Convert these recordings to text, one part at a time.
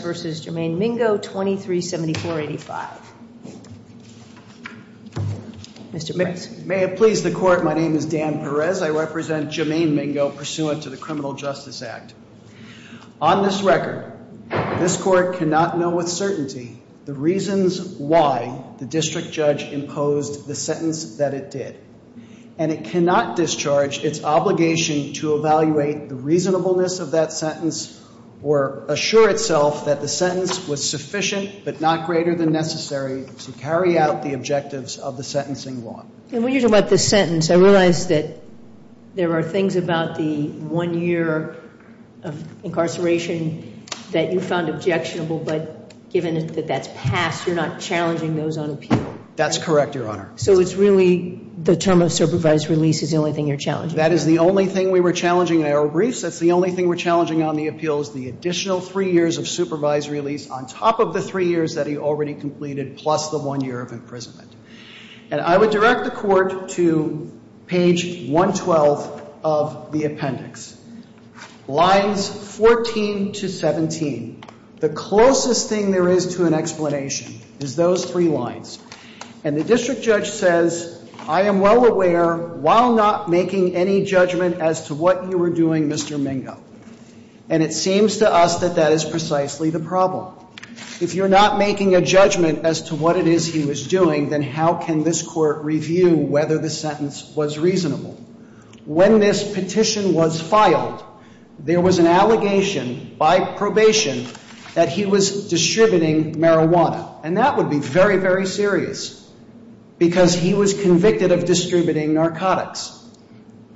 v. Jermaine Mingo, 2374-85. Mr. Perez. May it please the Court. My name is Dan Perez. I represent Jermaine Mingo pursuant to the Criminal Justice Act. On this record, this Court cannot know with certainty the reasons why the district judge imposed the sentence that it did, and it cannot discharge its obligation to evaluate the reasonableness of that sentence or assure itself that the sentence was sufficient but not greater than necessary to carry out the objectives of the sentencing law. And when you're talking about this sentence, I realize that there are things about the one year of incarceration that you found objectionable, but given that that's passed, you're not challenging those on appeal. That's correct, Your Honor. So it's really the term of supervised release is the only thing you're challenging? That is the only thing we were challenging in our briefs. That's the only thing we're challenging on the appeals, the additional three years of supervised release on top of the three years that he already completed plus the one year of imprisonment. And I would direct the Court to page 112 of the appendix, lines 14 to 17. The closest thing there is to an explanation is those three lines. And the district judge says, I am well aware, while not making any judgment as to what you were doing, Mr. Mingo, and it seems to us that that is precisely the problem. If you're not making a judgment as to what it is he was doing, then how can this Court review whether the sentence was reasonable? When this petition was filed, there was an allegation by probation that he was distributing marijuana. And that would be very, very serious because he was convicted of distributing narcotics.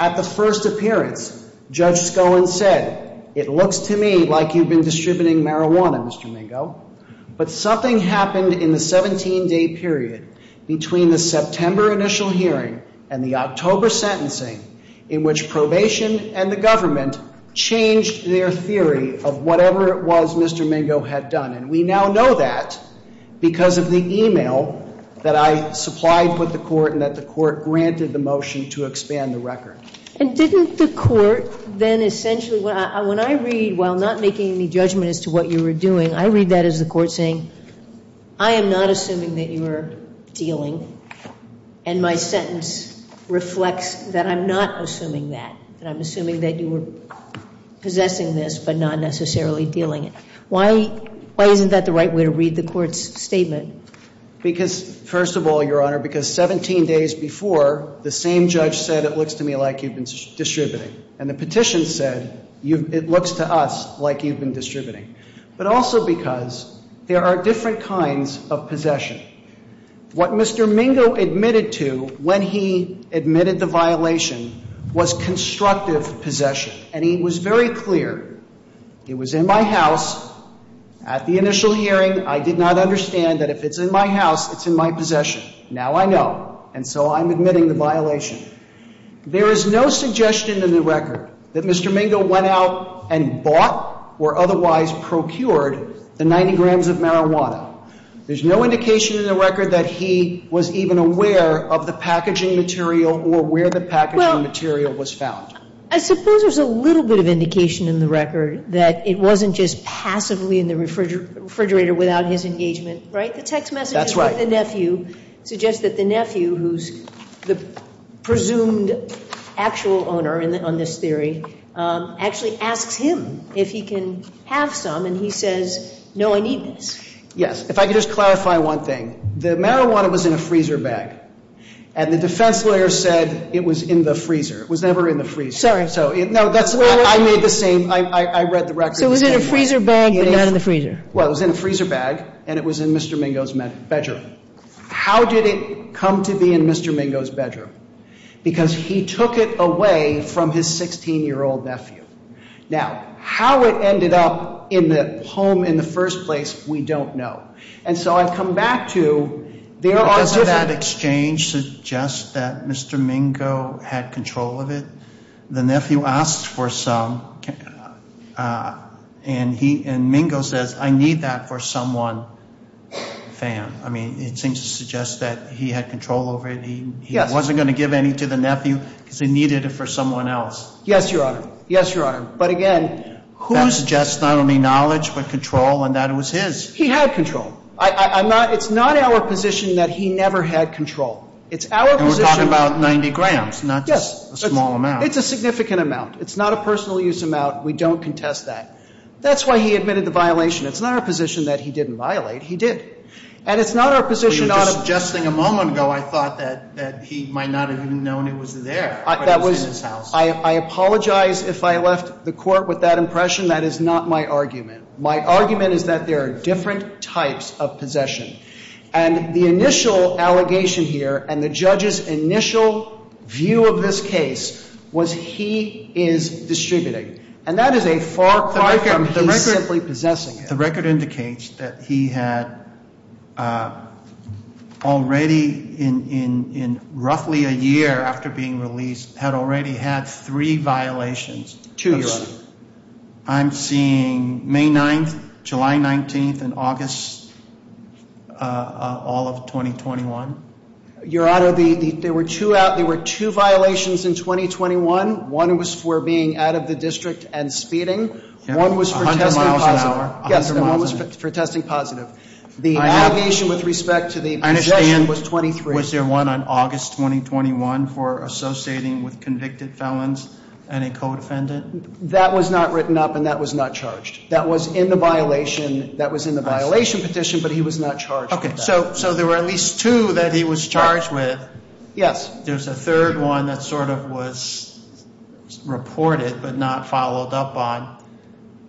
At the first appearance, Judge Skoen said, it looks to me like you've been distributing marijuana, Mr. Mingo. But something happened in the 17-day period between the September initial hearing and the October sentencing in which probation and the government changed their theory of whatever it was Mr. Mingo had done. And we now know that because of the email that I supplied with the Court and that the Court granted the motion to expand the record. And didn't the Court then essentially, when I read, while not making any judgment as to what you were doing, I read that as the Court saying, I am not assuming that you were dealing. And my sentence reflects that I'm not assuming that, that I'm assuming that you were possessing this but not necessarily dealing it. Why isn't that the right way to read the Court's statement? Because, first of all, Your Honor, because 17 days before, the same judge said, it looks to me like you've been distributing. And the petition said, it looks to us like you've been distributing. But also because there are different kinds of possession. What Mr. Mingo admitted to when he admitted the violation was constructive possession. And he was very clear. He was in my house at the initial hearing. I did not understand that if it's in my house, it's in my possession. Now I know. And so I'm admitting the violation. There is no suggestion in the record that Mr. Mingo went out and bought or otherwise procured the 90 grams of marijuana. There's no indication in the record that he was even aware of the packaging material or where the packaging material was found. Well, I suppose there's a little bit of indication in the record that it wasn't just passively in the refrigerator without his engagement, right? The text message with the nephew suggests that the nephew, who's the presumed actual owner on this theory, actually asks him if he can have some. And he says, no, I need this. If I could just clarify one thing. The marijuana was in a freezer bag. And the defense lawyer said it was in the freezer. It was never in the freezer. Sorry. So, no, that's, I made the same, I read the record. So it was in a freezer bag, but not in the freezer. Well, it was in a freezer bag. And it was in Mr. Mingo's bedroom. How did it come to be in Mr. Mingo's bedroom? Because he took it away from his 16-year-old nephew. Now, how it ended up in the home in the first place, we don't know. And so I've come back to, there are different. Doesn't that exchange suggest that Mr. Mingo had control of it? The nephew asked for some. And Mingo says, I need that for someone, fam. I mean, it seems to suggest that he had control over it. He wasn't going to give any to the nephew because he needed it for someone else. Yes, Your Honor. Yes, Your Honor. But again, who suggests not only knowledge, but control, and that it was his? He had control. It's not our position that he never had control. It's our position. We're talking about 90 grams, not just a small amount. It's a significant amount. It's not a personal use amount. We don't contest that. That's why he admitted the violation. It's not our position that he didn't violate. He did. And it's not our position not to. Just a moment ago, I thought that he might not have even known it was there, but it was in his house. I apologize if I left the court with that impression. That is not my argument. My argument is that there are different types of possession. And the initial allegation here, and the judge's initial view of this case, was he is distributing. And that is a far cry from he's simply possessing it. The record indicates that he had already, in roughly a year after being released, had already had three violations. Two, Your Honor. I'm seeing May 9th, July 19th, and August, all of 2021. Your Honor, there were two violations in 2021. One was for being out of the district and speeding. One was for testing positive. Yes, and one was for testing positive. The allegation with respect to the possession was 23. Was there one on August 2021 for associating with convicted felons and a co-defendant? That was not written up, and that was not charged. That was in the violation petition, but he was not charged with that. So there were at least two that he was charged with. Yes. There's a third one that sort of was reported, but not followed up on.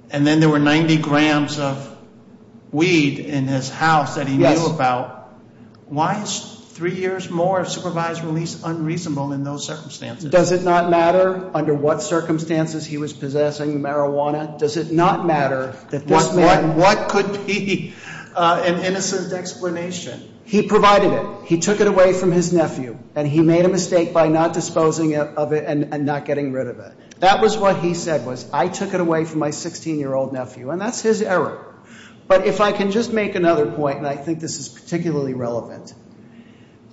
And then there were 90 grams of weed in his house that he knew about. Why is three years more of supervised release unreasonable in those circumstances? Does it not matter under what circumstances he was possessing the marijuana? Does it not matter that this man- What could be an innocent explanation? He provided it. He took it away from his nephew, and he made a mistake by not disposing of it and not getting rid of it. That was what he said was, I took it away from my 16-year-old nephew, and that's his error. But if I can just make another point, and I think this is particularly relevant.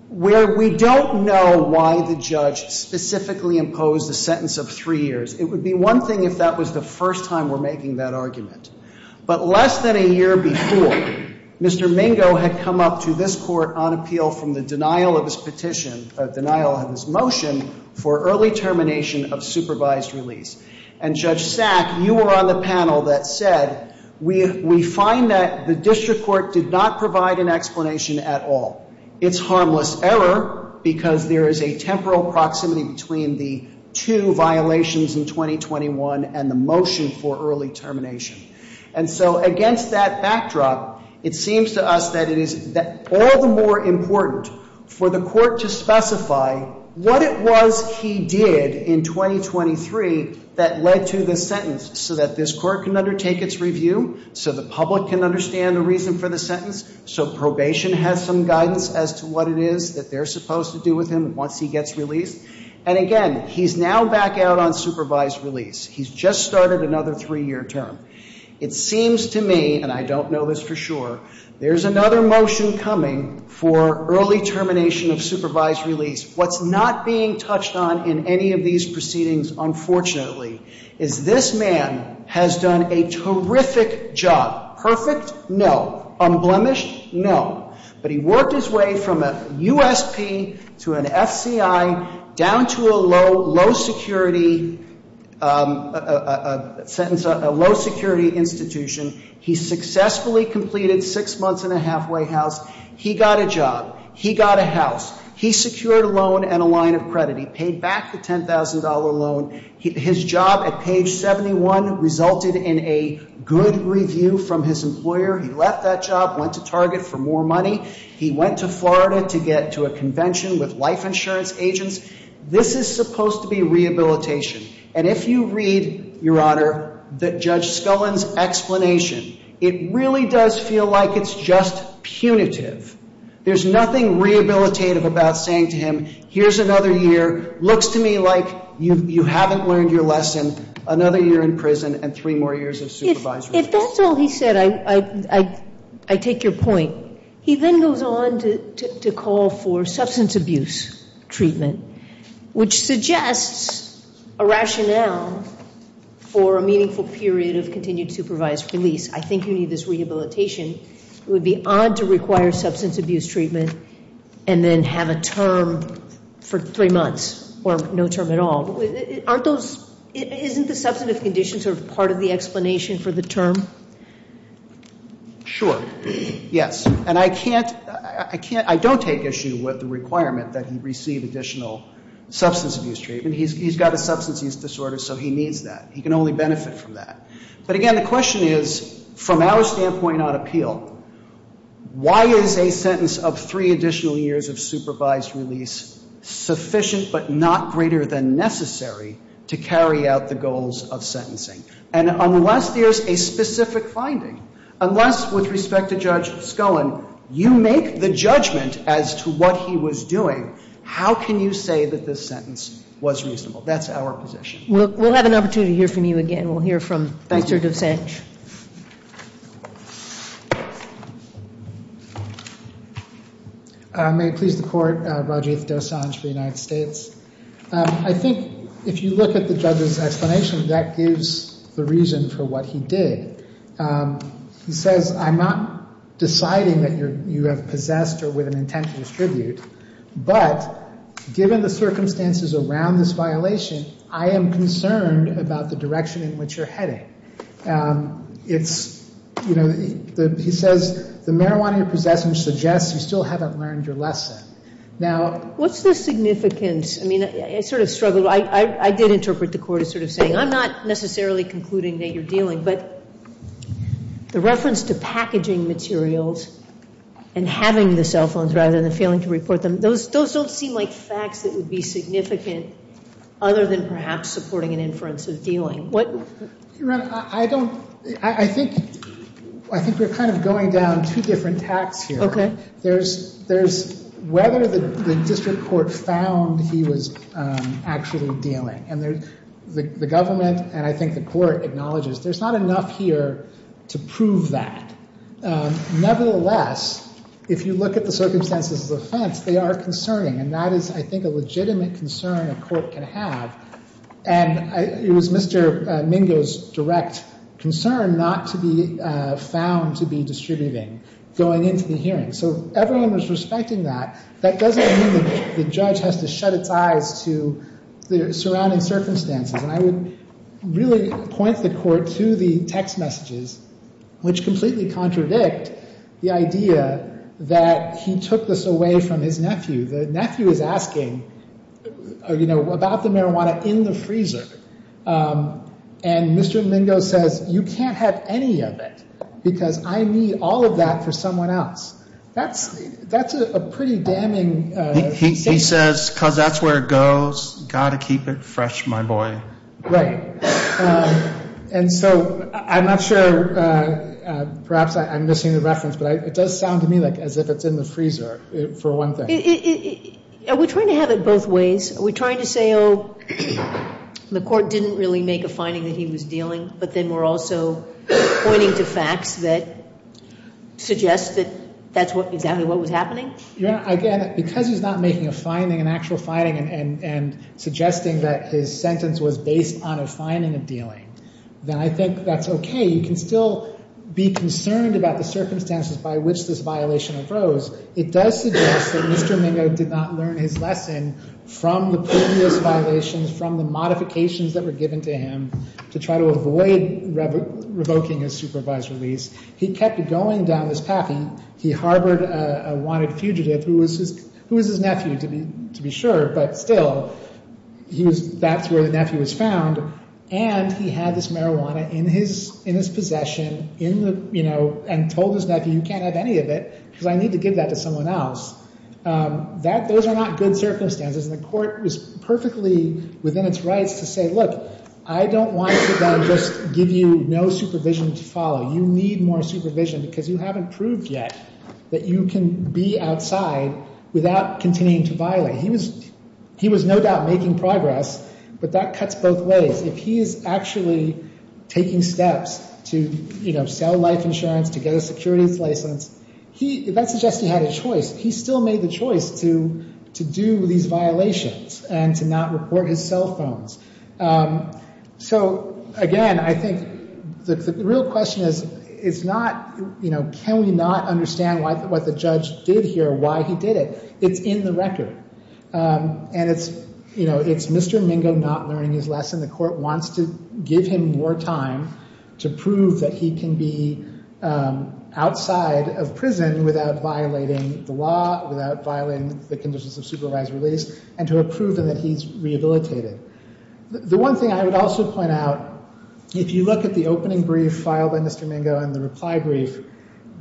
Where we don't know why the judge specifically imposed a sentence of three years, it would be one thing if that was the first time we're making that argument. But less than a year before, Mr. Mingo had come up to this court on appeal from the denial of his petition, denial of his motion for early termination of supervised release. And Judge Sack, you were on the panel that said, we find that the district court did not provide an explanation at all. It's harmless error because there is a temporal proximity between the two violations in 2021 and the motion for early termination. And so against that backdrop, it seems to us that it is all the more important for the court to specify what it was he did in 2023 that led to this sentence. So that this court can undertake its review, so the public can understand the reason for the sentence. So probation has some guidance as to what it is that they're supposed to do with him once he gets released. And again, he's now back out on supervised release. He's just started another three year term. It seems to me, and I don't know this for sure, there's another motion coming for early termination of supervised release. What's not being touched on in any of these proceedings, unfortunately, is this man has done a terrific job. No. Unblemished? No. But he worked his way from a USP to an FCI down to a low security institution. He successfully completed six months in a halfway house. He got a job. He got a house. He secured a loan and a line of credit. He paid back the $10,000 loan. His job at page 71 resulted in a good review from his employer. He left that job, went to Target for more money. He went to Florida to get to a convention with life insurance agents. This is supposed to be rehabilitation. And if you read, Your Honor, that Judge Scullin's explanation, it really does feel like it's just punitive. There's nothing rehabilitative about saying to him, here's another year, looks to me like you haven't learned your lesson, another year in prison, and three more years of supervised release. If that's all he said, I take your point. He then goes on to call for substance abuse treatment, which suggests a rationale for a meaningful period of continued supervised release. I think you need this rehabilitation. It would be odd to require substance abuse treatment and then have a term for three months, or no term at all. Aren't those, isn't the substantive conditions part of the explanation for the term? Sure, yes. And I don't take issue with the requirement that he receive additional substance abuse treatment. He's got a substance use disorder, so he needs that. He can only benefit from that. But again, the question is, from our standpoint on appeal, why is a sentence of three additional years of supervised release sufficient but not greater than necessary to carry out the goals of sentencing? And unless there's a specific finding, unless with respect to Judge Scullin, you make the judgment as to what he was doing, how can you say that this sentence was reasonable? That's our position. We'll have an opportunity to hear from you again. And we'll hear from Dr. Dosanjh. May it please the court, Rajiv Dosanjh for the United States. I think if you look at the judge's explanation, that gives the reason for what he did. He says, I'm not deciding that you have possessed or with an intent to distribute. But given the circumstances around this violation, I am concerned about the direction in which you're heading. He says, the marijuana you're possessing suggests you still haven't learned your lesson. Now- What's the significance? I mean, I sort of struggled. I did interpret the court as sort of saying, I'm not necessarily concluding that you're dealing. But the reference to packaging materials and having the cell phones rather than failing to report them, those don't seem like facts that would be significant. Other than perhaps supporting an inference of dealing. What- Your Honor, I don't, I think we're kind of going down two different paths here. There's whether the district court found he was actually dealing. And the government, and I think the court, acknowledges there's not enough here to prove that. Nevertheless, if you look at the circumstances of offense, they are concerning. And that is, I think, a legitimate concern a court can have. And it was Mr. Mingo's direct concern not to be found to be distributing going into the hearing. So if everyone was respecting that, that doesn't mean the judge has to shut its eyes to the surrounding circumstances. And I would really point the court to the text messages, which completely contradict the idea that he took this away from his nephew. The nephew is asking, you know, about the marijuana in the freezer. And Mr. Mingo says, you can't have any of it because I need all of that for someone else. That's a pretty damning- He says, because that's where it goes, got to keep it fresh, my boy. Right. And so I'm not sure, perhaps I'm missing the reference, but it does sound to me like as if it's in the freezer for one thing. Are we trying to have it both ways? Are we trying to say, oh, the court didn't really make a finding that he was dealing, but then we're also pointing to facts that suggest that that's exactly what was happening? Yeah, again, because he's not making a finding, an actual finding, and suggesting that his sentence was based on a finding of dealing, then I think that's okay. You can still be concerned about the circumstances by which this violation arose. It does suggest that Mr. Mingo did not learn his lesson from the previous violations, from the modifications that were given to him to try to avoid revoking his supervised release. He kept going down this path. He harbored a wanted fugitive, who was his nephew, to be sure, but still, that's where the nephew was found. And he had this marijuana in his possession, you know, and told his nephew, you can't have any of it, because I need to give that to someone else. Those are not good circumstances, and the court was perfectly within its rights to say, look, I don't want to then just give you no supervision to follow. You need more supervision, because you haven't proved yet that you can be outside without continuing to violate. He was no doubt making progress, but that cuts both ways. If he is actually taking steps to, you know, sell life insurance, to get a securities license, that suggests he had a choice. He still made the choice to do these violations and to not report his cell phones. So, again, I think the real question is, it's not, you know, can we not understand what the judge did here, why he did it? It's in the record, and it's, you know, it's Mr. Mingo not learning his lesson. The court wants to give him more time to prove that he can be outside of prison without violating the law, without violating the conditions of supervised release, and to have proven that he's rehabilitated. The one thing I would also point out, if you look at the opening brief filed by Mr. Mingo and the reply brief,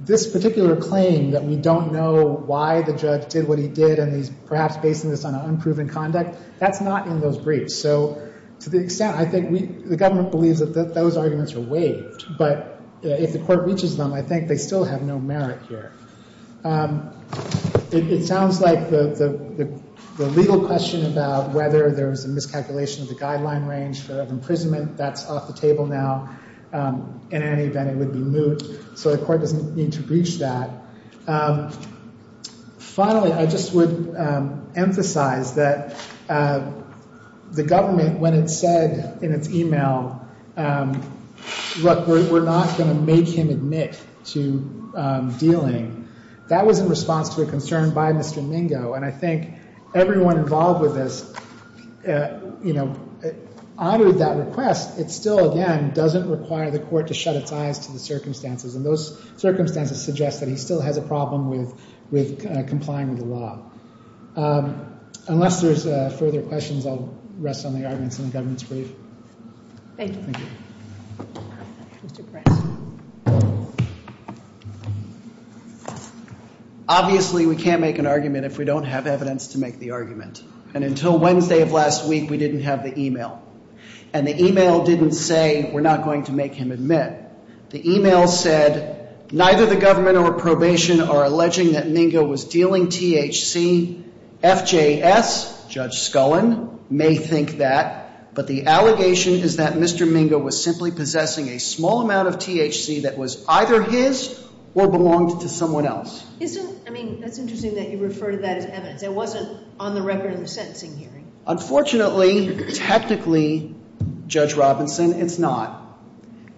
this particular claim that we don't know why the judge did what he did and he's perhaps basing this on unproven conduct, that's not in those briefs. So, to the extent, I think we, the government believes that those arguments are waived, but if the court reaches them, I think they still have no merit here. It sounds like the legal question about whether there was a miscalculation of the guideline range for imprisonment, that's off the table now. In any event, it would be moot, so the court doesn't need to breach that. Finally, I just would emphasize that the government, when it said in its email, look, we're not going to make him admit to dealing, that was in response to a concern by Mr. Mingo, and I think everyone involved with this, you know, honored that request. It still, again, doesn't require the court to shut its eyes to the circumstances, and those circumstances suggest that he still has a problem with complying with the law. Unless there's further questions, I'll rest on the arguments in the government's brief. Thank you. Mr. Kress. Obviously, we can't make an argument if we don't have evidence to make the argument, and until Wednesday of last week, we didn't have the email, and the email didn't say, we're not going to make him admit. The email said, neither the government or probation are alleging that Mingo was dealing THC. FJS, Judge Scullin, may think that, but the allegation is that Mr. Mingo was simply possessing a small amount of THC that was either his or belonged to someone else. Isn't, I mean, that's interesting that you refer to that as evidence. It wasn't on the record in the sentencing hearing. Unfortunately, technically, Judge Robinson, it's not.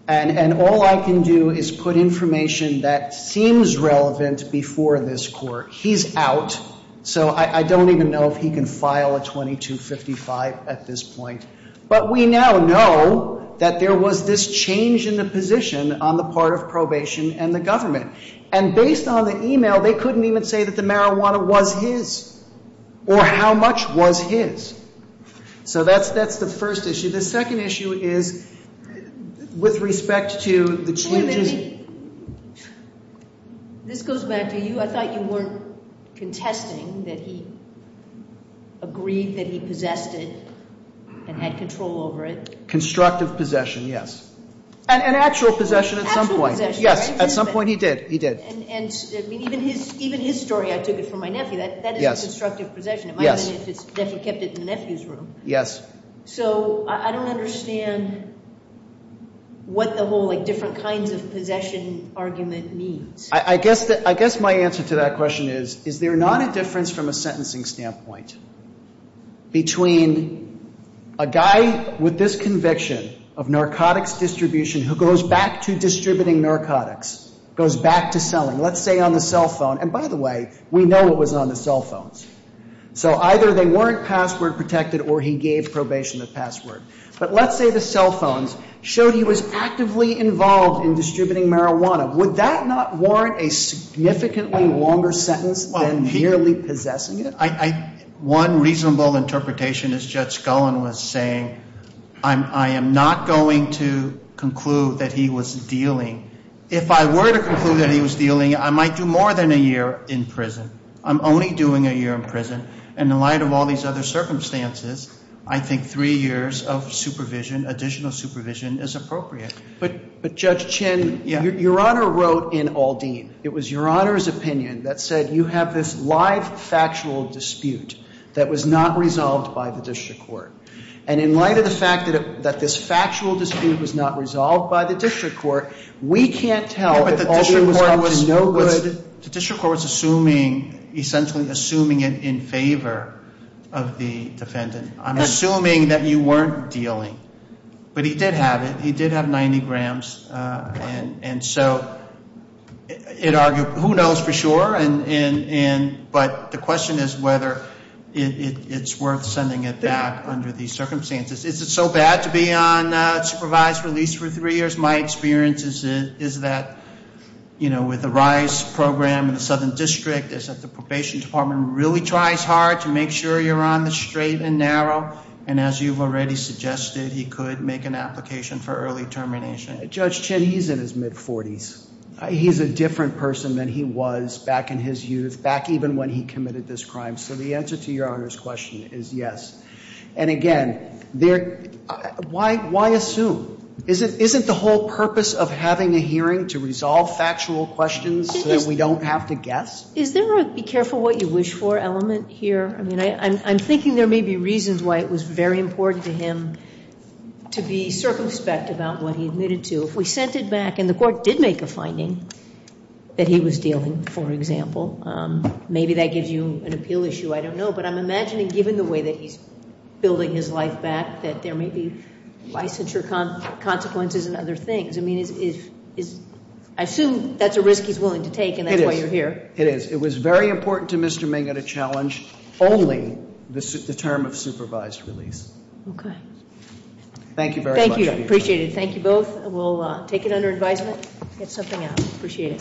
And all I can do is put information that seems relevant before this court. He's out, so I don't even know if he can file a 2255 at this point. But we now know that there was this change in the position on the part of probation and the government. And based on the email, they couldn't even say that the marijuana was his, or how much was his. So that's the first issue. The second issue is, with respect to the changes- This goes back to you. I thought you weren't contesting that he agreed that he possessed it and had control over it. Constructive possession, yes. And actual possession at some point. Yes, at some point he did. He did. And even his story, I took it from my nephew, that is a constructive possession. It might have been if he kept it in the nephew's room. Yes. So I don't understand what the whole different kinds of possession argument means. I guess my answer to that question is, is there not a difference from a sentencing standpoint between a guy with this conviction of narcotics distribution who goes back to distributing narcotics, goes back to selling, let's say on the cell phone. And by the way, we know it was on the cell phones. So either they weren't password protected or he gave probation the password. But let's say the cell phones showed he was actively involved in distributing marijuana. Would that not warrant a significantly longer sentence than merely possessing it? One reasonable interpretation is Judge Gullen was saying, I am not going to conclude that he was dealing. If I were to conclude that he was dealing, I might do more than a year in prison. I'm only doing a year in prison. And in light of all these other circumstances, I think three years of supervision, additional supervision, is appropriate. But Judge Chin, your Honor wrote in Aldean. It was your Honor's opinion that said you have this live factual dispute that was not resolved by the district court. And in light of the fact that this factual dispute was not resolved by the district court, we can't tell if Aldean was in no good. The district court's assuming, essentially assuming it in favor of the defendant. I'm assuming that you weren't dealing. But he did have it. He did have 90 grams. And so, who knows for sure, but the question is whether it's worth sending it back under these circumstances. Is it so bad to be on supervised release for three years? My experience is that with the RISE program in the Southern District, is that the probation department really tries hard to make sure you're on the straight and narrow. And as you've already suggested, he could make an application for early termination. Judge Chin, he's in his mid-40s. He's a different person than he was back in his youth, back even when he committed this crime. So the answer to your Honor's question is yes. And again, why assume? Isn't the whole purpose of having a hearing to resolve factual questions so that we don't have to guess? Is there a be careful what you wish for element here? I mean, I'm thinking there may be reasons why it was very important to him to be circumspect about what he admitted to. If we sent it back and the court did make a finding that he was dealing, for example. Maybe that gives you an appeal issue, I don't know. But I'm imagining given the way that he's building his life back, that there may be licensure consequences and other things. I mean, I assume that's a risk he's willing to take and that's why you're here. It is. It was very important to Mr. Ming at a challenge, only the term of supervised release. Okay. Thank you very much. Thank you. I appreciate it. Thank you both. We'll take it under advisement. Get something out. Appreciate it.